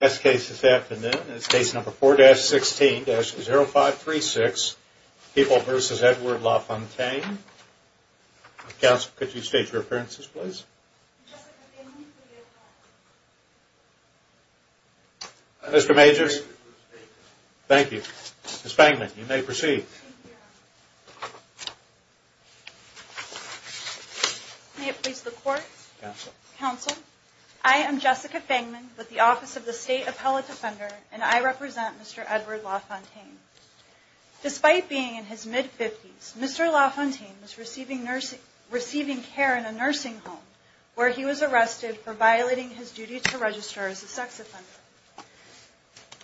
Best case this afternoon is case number 4-16-0536, People v. Edward Lafontaine. Counsel, could you state your appearances, please? Mr. Majors? Thank you. Ms. Fangman, you may proceed. May it please the Court? Counsel? I am Jessica Fangman with the Office of the State Appellate Defender, and I represent Mr. Edward Lafontaine. Despite being in his mid-fifties, Mr. Lafontaine was receiving care in a nursing home, where he was arrested for violating his duty to register as a sex offender.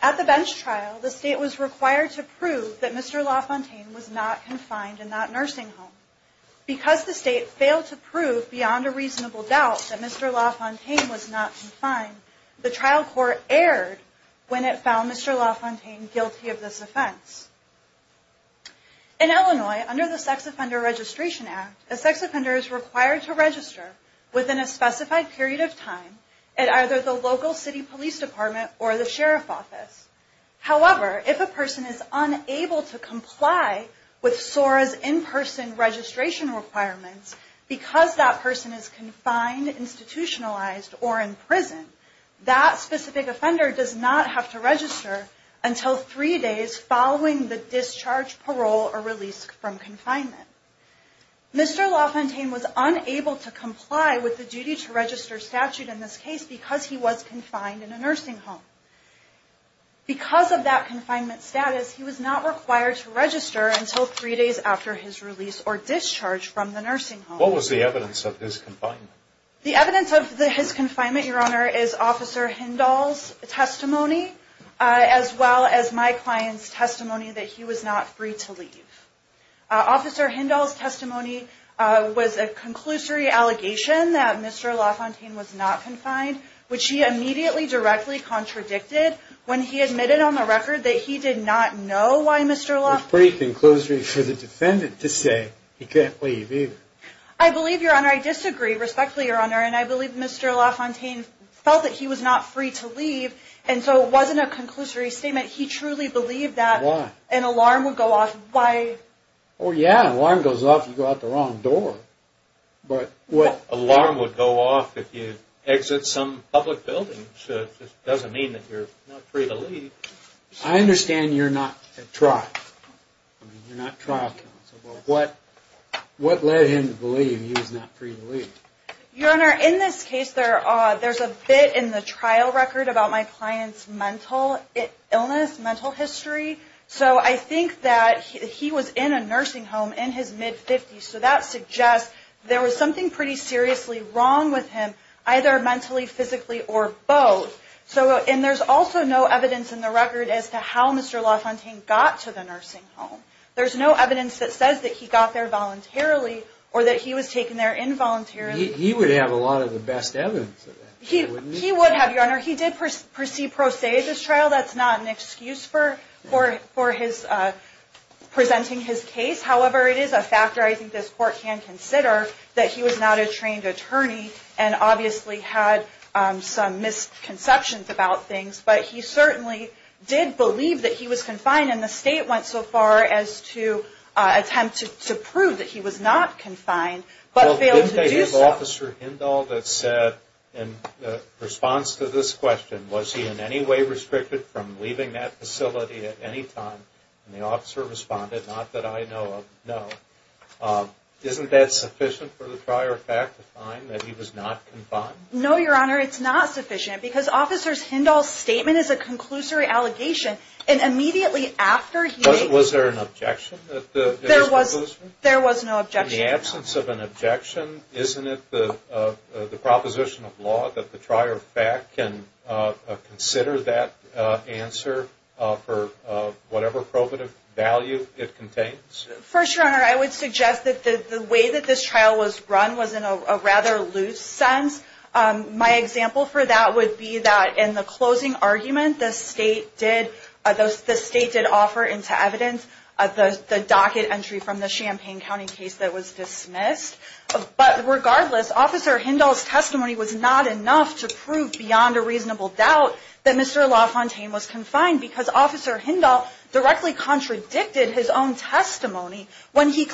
At the bench trial, the State was required to prove that Mr. Lafontaine was not confined in that nursing home. Because the State failed to prove beyond a reasonable doubt that Mr. Lafontaine was not confined, the trial court erred when it found Mr. Lafontaine guilty of this offense. In Illinois, under the Sex Offender Registration Act, a sex offender is required to register within a specified period of time at either the local city police department or the sheriff's office. However, if a person is unable to comply with SORA's in-person registration requirements because that person is confined, institutionalized, or in prison, that specific offender does not have to register until three days following the discharge, parole, or release from confinement. Mr. Lafontaine was unable to comply with the duty to register statute in this case because he was confined in a nursing home. Because of that confinement status, he was not required to register until three days after his release or discharge from the nursing home. What was the evidence of his confinement? The evidence of his confinement, Your Honor, is Officer Hindahl's testimony, as well as my client's testimony that he was not free to leave. Officer Hindahl's testimony was a conclusory allegation that Mr. Lafontaine was not confined, which he immediately directly contradicted when he admitted on the record that he did not know why Mr. Lafontaine... I believe, Your Honor, I disagree respectfully, Your Honor, and I believe Mr. Lafontaine felt that he was not free to leave, and so it wasn't a conclusory statement. He truly believed that an alarm would go off by... Oh, yeah, an alarm goes off if you go out the wrong door. An alarm would go off if you exit some public building, so it doesn't mean that you're not free to leave. I understand you're not a trial counsel, but what led him to believe he was not free to leave? Your Honor, in this case, there's a bit in the trial record about my client's mental illness, mental history. So I think that he was in a nursing home in his mid-50s, so that suggests there was something pretty seriously wrong with him, either mentally, physically, or both. And there's also no evidence in the record as to how Mr. Lafontaine got to the nursing home. There's no evidence that says that he got there voluntarily or that he was taken there involuntarily. He would have a lot of the best evidence of that, wouldn't he? He would have, Your Honor. He did proceed pro se at this trial. That's not an excuse for presenting his case. However, it is a factor I think this Court can consider that he was not a trained attorney and obviously had some misconceptions about things. But he certainly did believe that he was confined, and the State went so far as to attempt to prove that he was not confined, but failed to do so. Well, didn't they use Officer Hindall that said in response to this question, was he in any way restricted from leaving that facility at any time? And the officer responded, not that I know of, no. Isn't that sufficient for the trier of fact to find that he was not confined? No, Your Honor, it's not sufficient because Officer Hindall's statement is a conclusory allegation, and immediately after he... Was there an objection? There was no objection. In the absence of an objection, isn't it the proposition of law that the trier of fact can consider that answer for whatever probative value it contains? First, Your Honor, I would suggest that the way that this trial was run was in a rather loose sense. My example for that would be that in the closing argument, the State did offer into evidence the docket entry from the Champaign County case that was dismissed. But regardless, Officer Hindall's testimony was not enough to prove beyond a reasonable doubt that Mr. LaFontaine was confined, because Officer Hindall directly contradicted his own testimony when he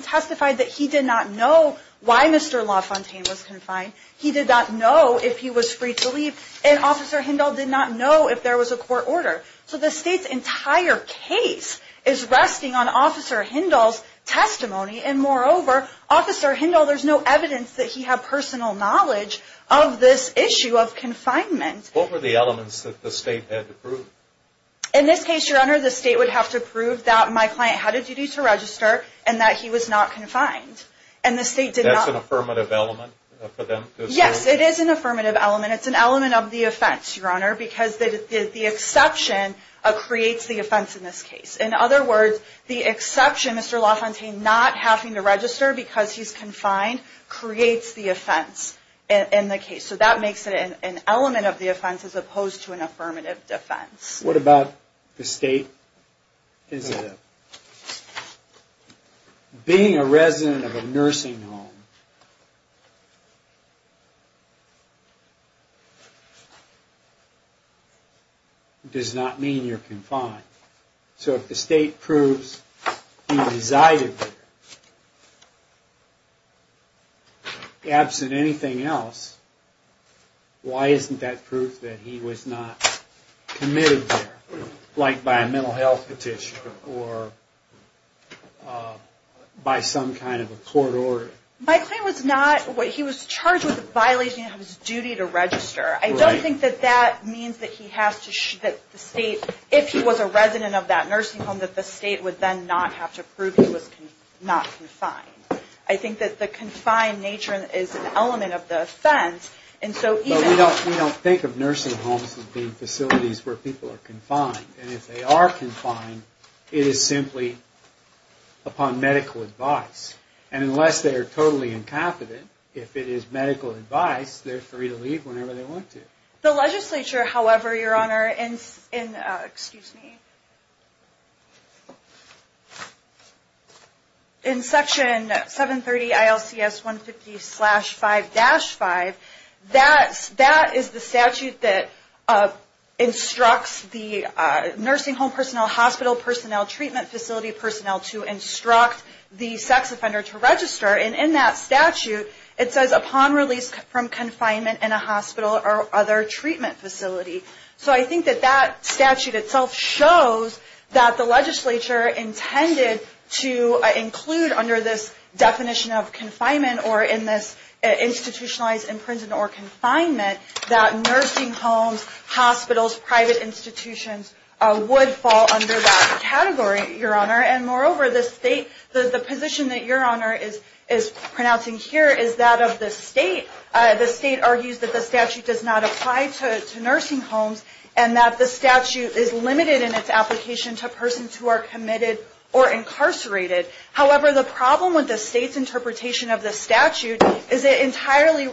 testified that he did not know why Mr. LaFontaine was confined. He did not know if he was free to leave, and Officer Hindall did not know if there was a court order. So the State's entire case is resting on Officer Hindall's testimony, and moreover, Officer Hindall, there's no evidence that he had personal knowledge of this issue of confinement. What were the elements that the State had to prove? In this case, Your Honor, the State would have to prove that my client had a duty to register and that he was not confined. That's an affirmative element for them? Yes, it is an affirmative element. It's an element of the offense, Your Honor, because the exception creates the offense in this case. In other words, the exception, Mr. LaFontaine not having to register because he's confined, creates the offense in the case. So that makes it an element of the offense as opposed to an affirmative defense. What about the State? Being a resident of a nursing home does not mean you're confined. So if the State proves he resided there, absent anything else, why isn't that proof that he was not committed there, like by a mental health petition or by some kind of a court order? My client was not, he was charged with a violation of his duty to register. I don't think that that means that the State, if he was a resident of that nursing home, that the State would then not have to prove he was not confined. I think that the confined nature is an element of the offense. We don't think of nursing homes as being facilities where people are confined. And if they are confined, it is simply upon medical advice. And unless they are totally incompetent, if it is medical advice, they're free to leave whenever they want to. The legislature, however, Your Honor, in Section 730 ILCS 150-5-5, that is the statute that instructs the nursing home personnel, hospital personnel, treatment facility personnel to instruct the sex offender to leave. And in that statute, it says upon release from confinement in a hospital or other treatment facility. So I think that that statute itself shows that the legislature intended to include under this definition of confinement or in this institutionalized imprisonment or confinement that nursing homes, hospitals, private institutions would fall under that category, Your Honor. And moreover, the State, the position that Your Honor is pronouncing here is that of the State. The State argues that the statute does not apply to nursing homes and that the statute is limited in its application to persons who are committed or incarcerated. However, the problem with the State's interpretation of the statute is it entirely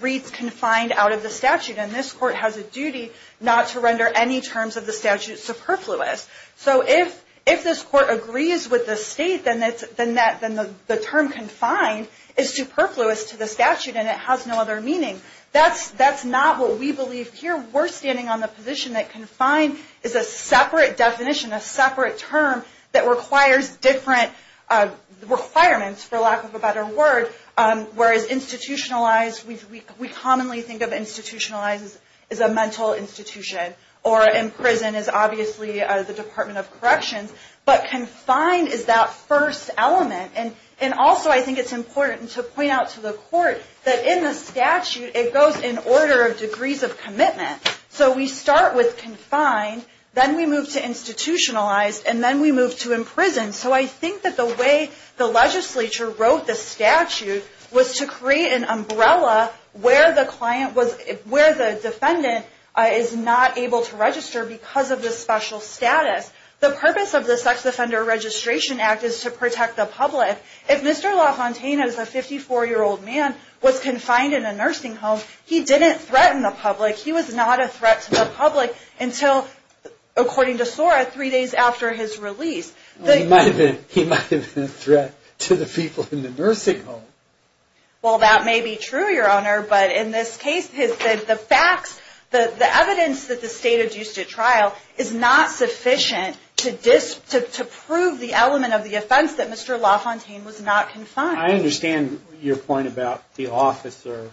reads confined out of the statute. And this Court has a duty not to render any terms of the statute superfluous. So if this Court agrees with the State, then the term confined is superfluous to the statute and it has no other meaning. That's not what we believe here. We're standing on the position that confined is a separate definition, a separate term that requires different requirements, for lack of a better word, whereas institutionalized, we commonly think of institutionalized as a mental institution. Or in prison as obviously the Department of Corrections. But confined is that first element. And also I think it's important to point out to the Court that in the statute it goes in order of degrees of commitment. So we start with confined, then we move to institutionalized, and then we move to imprisoned. So I think that the way the legislature wrote the statute was to create an umbrella where the client was, where the defendant is not in prison. And the client was not able to register because of the special status. The purpose of the Sex Offender Registration Act is to protect the public. If Mr. LaFontaine, as a 54-year-old man, was confined in a nursing home, he didn't threaten the public. He was not a threat to the public until, according to SORA, three days after his release. He might have been a threat to the people in the nursing home. Well, that may be true, Your Honor. But in this case, the facts, the evidence that the State adduced at trial is not sufficient to prove the element of the offense that Mr. LaFontaine was not confined. I understand your point about the officer.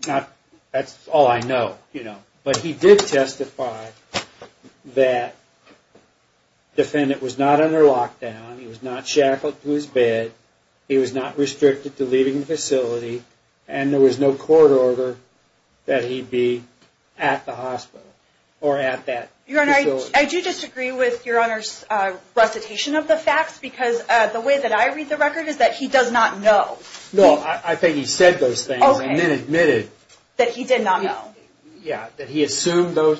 That's all I know. But he did testify that the defendant was not under lockdown. He was not shackled to his bed. He was not restricted to leaving the facility. And there was no court order that he be at the hospital or at that facility. Your Honor, I do disagree with Your Honor's recitation of the facts. Because the way that I read the record is that he does not know. No, I think he said those things and then admitted. That he did not know. Did he assume them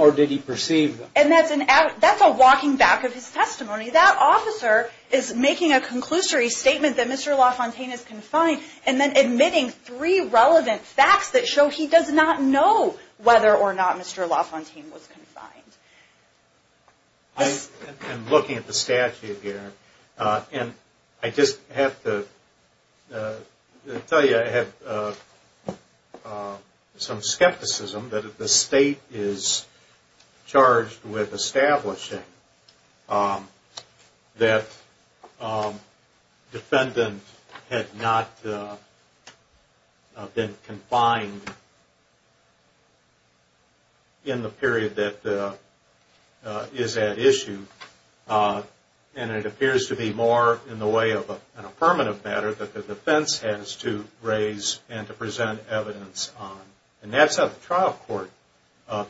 or did he perceive them? And that's a walking back of his testimony. That officer is making a conclusory statement that Mr. LaFontaine is confined and then admitting three relevant facts that show he does not know whether or not Mr. LaFontaine was confined. I'm looking at the statute here. And I just have to tell you I have some skepticism that if the state is charged with establishing that the defendant had not been confined in the period that Mr. LaFontaine was in, that the defendant is at issue. And it appears to be more in the way of an affirmative matter that the defense has to raise and to present evidence on. And that's how the trial court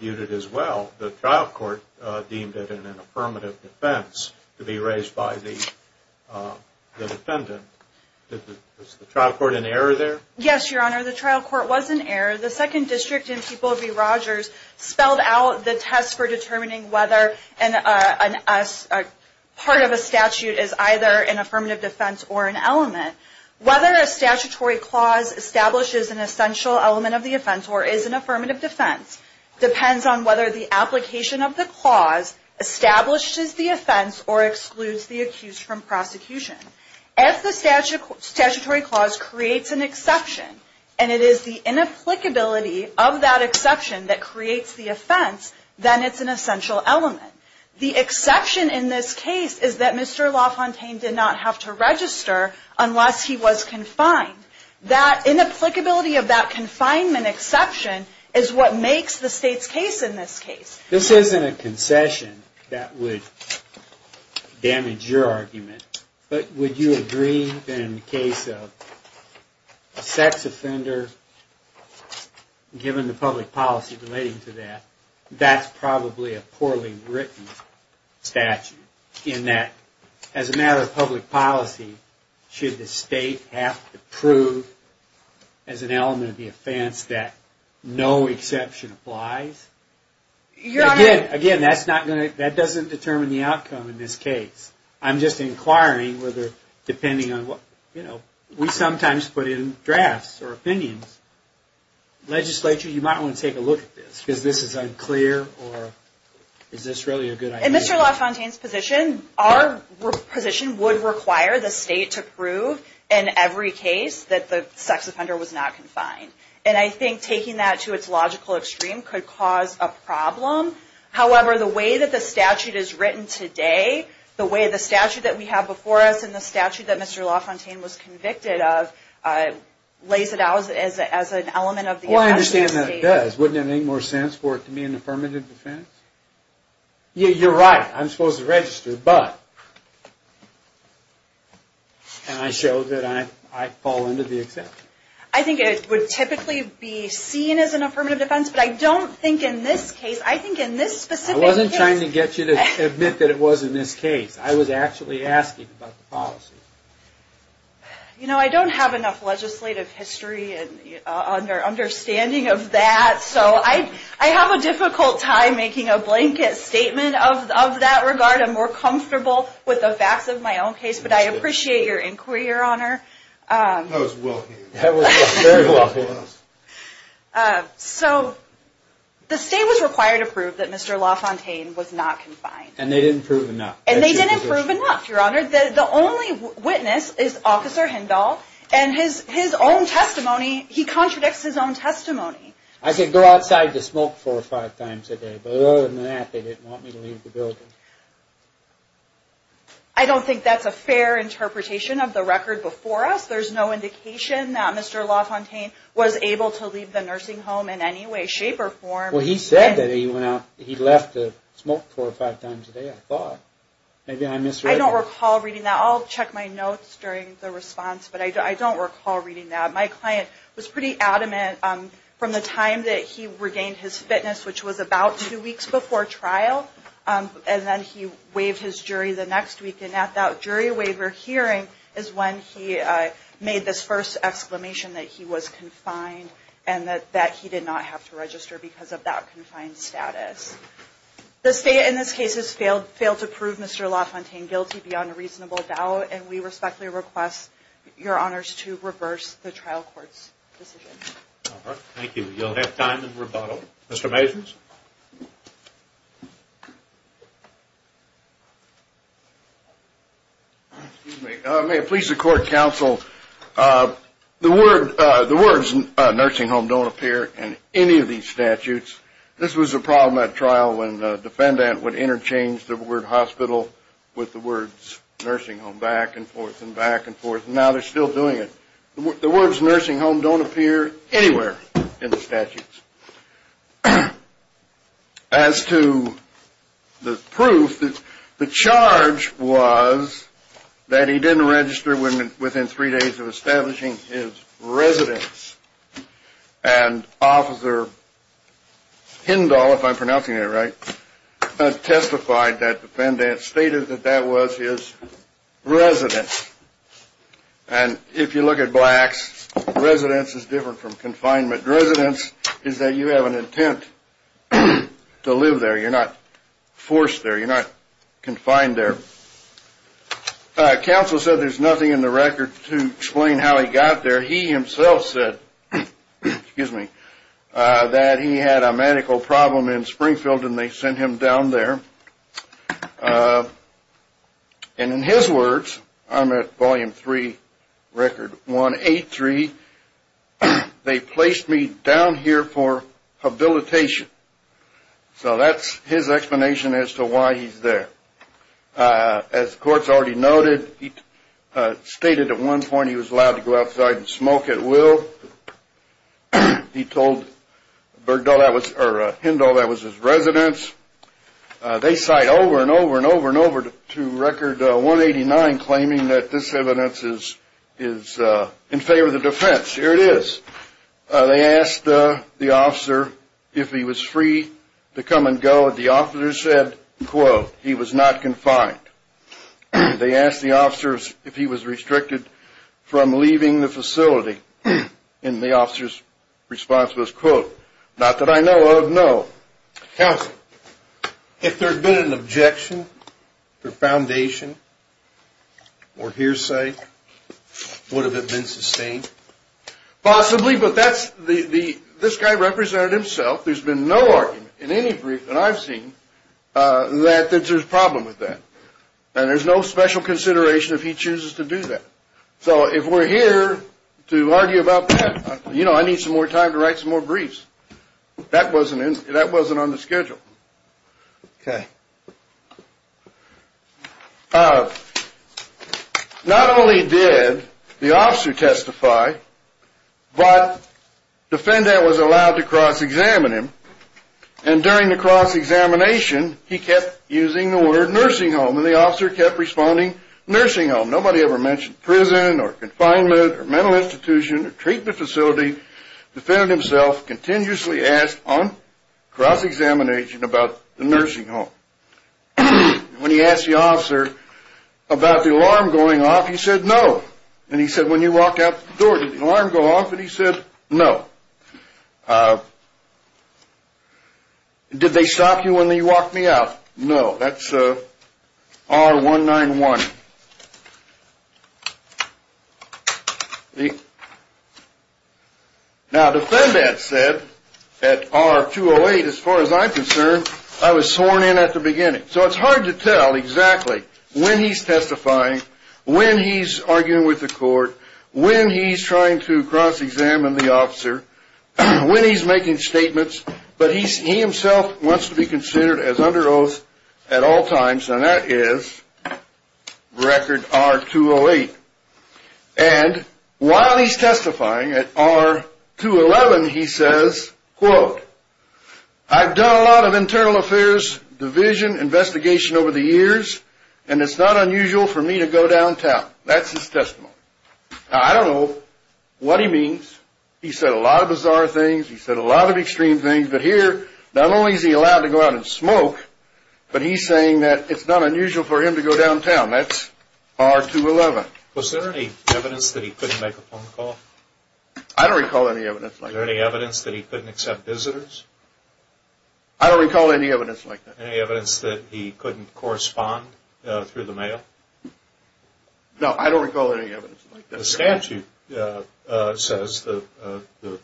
viewed it as well. The trial court deemed it an affirmative defense to be raised by the defendant. Was the trial court in error there? Yes, Your Honor, the trial court was in error. The second district in People v. Rogers spelled out the test for determining whether part of a statute is either an affirmative defense or an element. Whether a statutory clause establishes an essential element of the offense or is an affirmative defense depends on whether the application of the clause establishes the offense or excludes the accused from prosecution. If the statutory clause creates an exception and it is the inapplicability of that exception that creates the offense, then it's an essential element. The exception in this case is that Mr. LaFontaine did not have to register unless he was confined. That inapplicability of that confinement exception is what makes the state's case in this case. This isn't a concession that would damage your argument, but would you agree that in the case of a sex offender given the public policy relating to that, that's probably a poorly written statute in that as a matter of public policy, should the state have to prove as an element of the offense that no exception applies? Again, that doesn't determine the outcome in this case. We sometimes put in drafts or opinions. Legislature, you might want to take a look at this because this is unclear. Is this really a good idea? In Mr. LaFontaine's position, our position would require the state to prove in every case that the sex offender was not confined. I think taking that to its logical extreme could cause a problem. However, the way that the statute is written today, the way the statute that we have before us and the statute that Mr. LaFontaine was convicted of lays it out as an element of the offense. I understand that it does. Wouldn't it make more sense for it to be an affirmative defense? You're right. I'm supposed to register, but... And I show that I fall into the exception. I think it would typically be seen as an affirmative defense, but I don't think in this case... I wasn't trying to get you to admit that it was in this case. I was actually asking about the policy. You know, I don't have enough legislative history understanding of that, so I have a difficult time making a blanket statement of that regard. I'm more comfortable with the facts of my own case, but I appreciate your inquiry, Your Honor. So, the state was required to prove that Mr. LaFontaine was not confined. And they didn't prove enough. And they didn't prove enough, Your Honor. The only witness is Officer Hindall, and his own testimony, he contradicts his own testimony. I could go outside to smoke four or five times a day, but other than that, they didn't want me to leave the building. I don't think that's a fair interpretation of the record before us. There's no indication that Mr. LaFontaine was able to leave the nursing home in any way, shape, or form. Well, he said that he left to smoke four or five times a day, I thought. Maybe I misread that. I don't recall reading that. I'll check my notes during the response, but I don't recall reading that. My client was pretty adamant from the time that he regained his fitness, which was about two weeks before trial, and then he waived his jury the next week. And at that jury waiver hearing is when he made this first exclamation that he was confined and that he did not have to register because of that confined status. The State in this case has failed to prove Mr. LaFontaine guilty beyond a reasonable doubt, and we respectfully request, Your Honors, to reverse the trial court's decision. Thank you. You'll have time in rebuttal. Mr. Majors? May it please the Court, Counsel, the words nursing home don't appear in any of these statutes. This was a problem at trial when the defendant would interchange the word hospital with the words nursing home back and forth and back and forth, and now they're still doing it. The words nursing home don't appear anywhere in the statutes. As to the proof, the charge was that he didn't register within three days of establishing his residence, and Officer Hindall, if I'm pronouncing that right, testified that the defendant stated that that was his residence. And if you look at blacks, residence is different from confinement. Residence is that you have an intent to live there. You're not forced there. You're not confined there. Counsel said there's nothing in the record to explain how he got there. He himself said that he had a medical problem in Springfield, and they sent him down there. And in his words, I'm at Volume 3, Record 183, they placed me down here for habilitation. So that's his explanation as to why he's there. As the Court's already noted, he stated at one point he was allowed to go outside and smoke at will. He told Hindall that was his residence. They cite over and over and over and over to Record 189 claiming that this evidence is in favor of the defense. Here it is. They asked the officer if he was free to come and go. The officer said, quote, he was not confined. They asked the officer if he was restricted from leaving the facility. And the officer's response was, quote, not that I know of, no. Counsel, if there had been an objection to the foundation or hearsay, would it have been sustained? Possibly, but this guy represented himself. There's been no argument in any brief that I've seen that there's a problem with that. And there's no special consideration if he chooses to do that. So if we're here to argue about that, you know, I need some more time to write some more briefs. That wasn't on the schedule. Okay. Not only did the officer testify, but the defendant was allowed to cross-examine him. And during the cross-examination, he kept using the word nursing home, and the officer kept responding nursing home. Nobody ever mentioned prison or confinement or mental institution or treatment facility. The defendant himself continuously asked on cross-examination about the nursing home. When he asked the officer about the alarm going off, he said no. And he said, when you walk out the door, did the alarm go off? And he said no. Did they stop you when you walked me out? No. That's R191. Now, the defendant said at R208, as far as I'm concerned, I was sworn in at the beginning. So it's hard to tell exactly when he's testifying, when he's arguing with the court, when he's trying to cross-examine the officer, when he's making statements, but he himself wants to be considered as under oath at all times, and that is record R208. And while he's testifying at R211, he says, quote, I've done a lot of internal affairs, division, investigation over the years, and it's not unusual for me to go downtown. That's his testimony. Now, I don't know what he means. He said a lot of bizarre things. He said a lot of extreme things. But here, not only is he allowed to go out and smoke, but he's saying that it's not unusual for him to go downtown. That's R211. Was there any evidence that he couldn't make a phone call? I don't recall any evidence like that. Was there any evidence that he couldn't accept visitors? I don't recall any evidence like that. Any evidence that he couldn't correspond through the mail? No, I don't recall any evidence like that. The statute says, the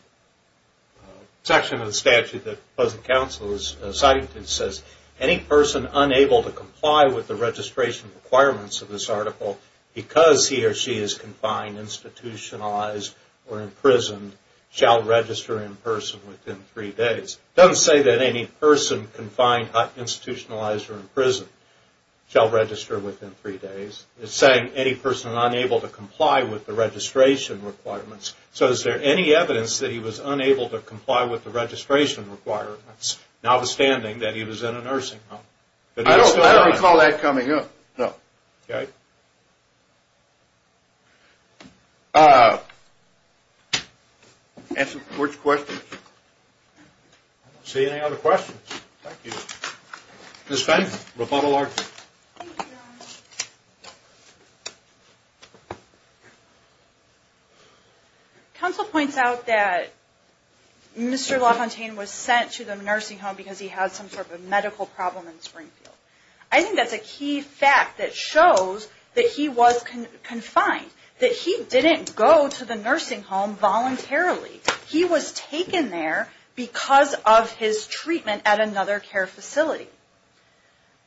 section of the statute that the Council is citing says, any person unable to comply with the registration requirements of this article, because he or she is confined, institutionalized, or imprisoned, shall register in person within three days. It doesn't say that any person confined, institutionalized, or imprisoned shall register within three days. It's saying any person unable to comply with the registration requirements. So is there any evidence that he was unable to comply with the registration requirements, notwithstanding that he was in a nursing home? I don't recall that coming up, no. Okay. That answers the Court's questions. I don't see any other questions. Thank you. Ms. Fenton, rebuttal argument. Thank you, Your Honor. The Council points out that Mr. LaFontaine was sent to the nursing home because he had some sort of medical problem in Springfield. I think that's a key fact that shows that he was confined, that he didn't go to the nursing home voluntarily. He was taken there because of his treatment at another care facility.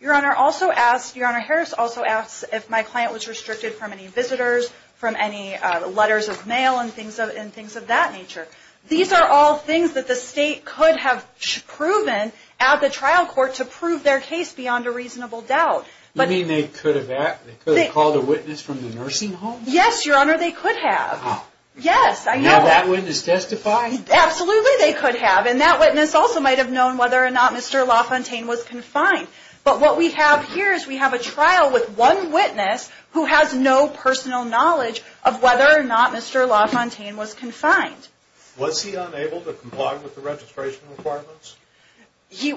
Your Honor, Harris also asks if my client was restricted from any visitors, from any letters of mail, and things of that nature. These are all things that the State could have proven at the trial court to prove their case beyond a reasonable doubt. You mean they could have called a witness from the nursing home? Yes, Your Honor, they could have. Did that witness testify? Absolutely, they could have. And that witness also might have known whether or not Mr. LaFontaine was confined. But what we have here is we have a trial with one witness who has no personal knowledge of whether or not Mr. LaFontaine was confined. Was he unable to comply with the registration requirements? He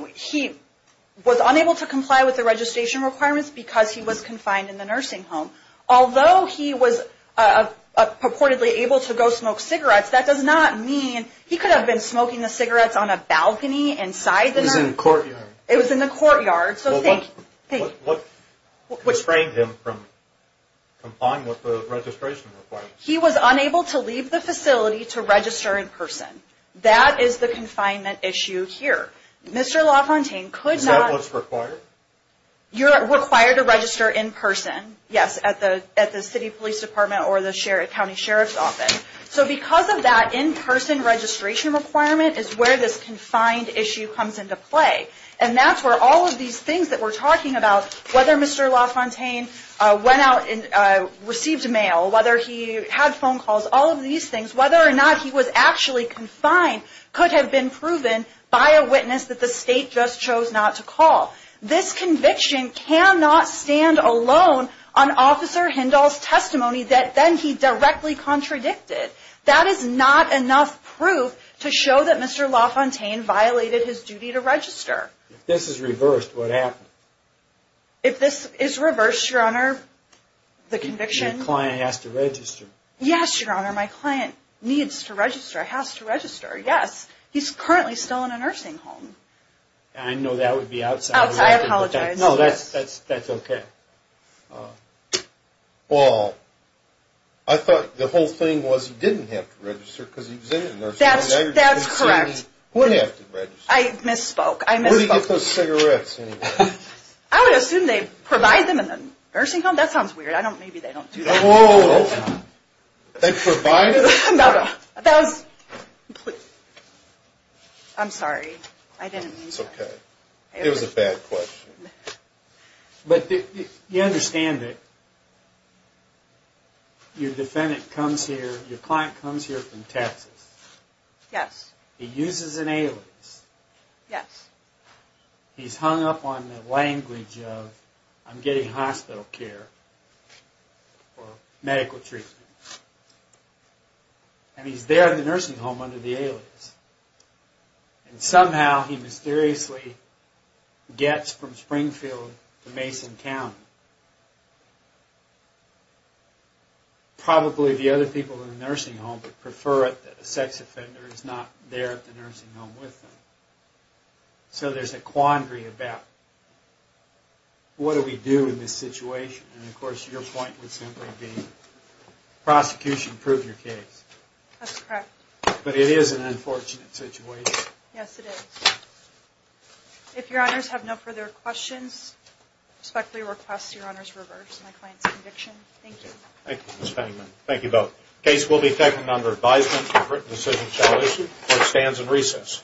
was unable to comply with the registration requirements because he was confined in the nursing home. Although he was purportedly able to go smoke cigarettes, that does not mean he could have been smoking the cigarettes on a balcony inside the nursing home. It was in the courtyard. It was in the courtyard, so think. What restrained him from complying with the registration requirements? He was unable to leave the facility to register in person. That is the confinement issue here. Mr. LaFontaine could not. Was that what was required? You're required to register in person, yes, at the city police department or the county sheriff's office. So because of that in-person registration requirement is where this confined issue comes into play. And that's where all of these things that we're talking about, whether Mr. LaFontaine went out and received mail, whether he had phone calls, all of these things, whether or not he was actually confined, could have been proven by a witness that the state just chose not to call. This conviction cannot stand alone on Officer Hindall's testimony that then he directly contradicted. That is not enough proof to show that Mr. LaFontaine violated his duty to register. If this is reversed, what happens? If this is reversed, Your Honor, the conviction? And your client has to register. Yes, Your Honor, my client needs to register, has to register, yes. He's currently still in a nursing home. I know that would be outside of the record. I apologize. No, that's okay. Well, I thought the whole thing was he didn't have to register because he was in a nursing home. That's correct. He wouldn't have to register. I misspoke. Where do you get those cigarettes anyway? I would assume they provide them in the nursing home. That sounds weird. Maybe they don't do that. Whoa, whoa, whoa. They provide it? No, no. That was completely. I'm sorry. I didn't mean to. It's okay. It was a bad question. But you understand that your defendant comes here, your client comes here from Texas. Yes. He uses an alias. Yes. He's hung up on the language of I'm getting hospital care or medical treatment. And he's there in the nursing home under the alias. And somehow he mysteriously gets from Springfield to Mason County. Probably the other people in the nursing home would prefer it that a sex offender is not there at the nursing home with them. So there's a quandary about what do we do in this situation? And of course your point would simply be prosecution, prove your case. That's correct. But it is an unfortunate situation. Yes, it is. If your honors have no further questions, I respectfully request your honors reverse my client's conviction. Thank you. Thank you, Ms. Fangman. Thank you both. The case will be taken under advisement. The written decision shall issue. Court stands in recess.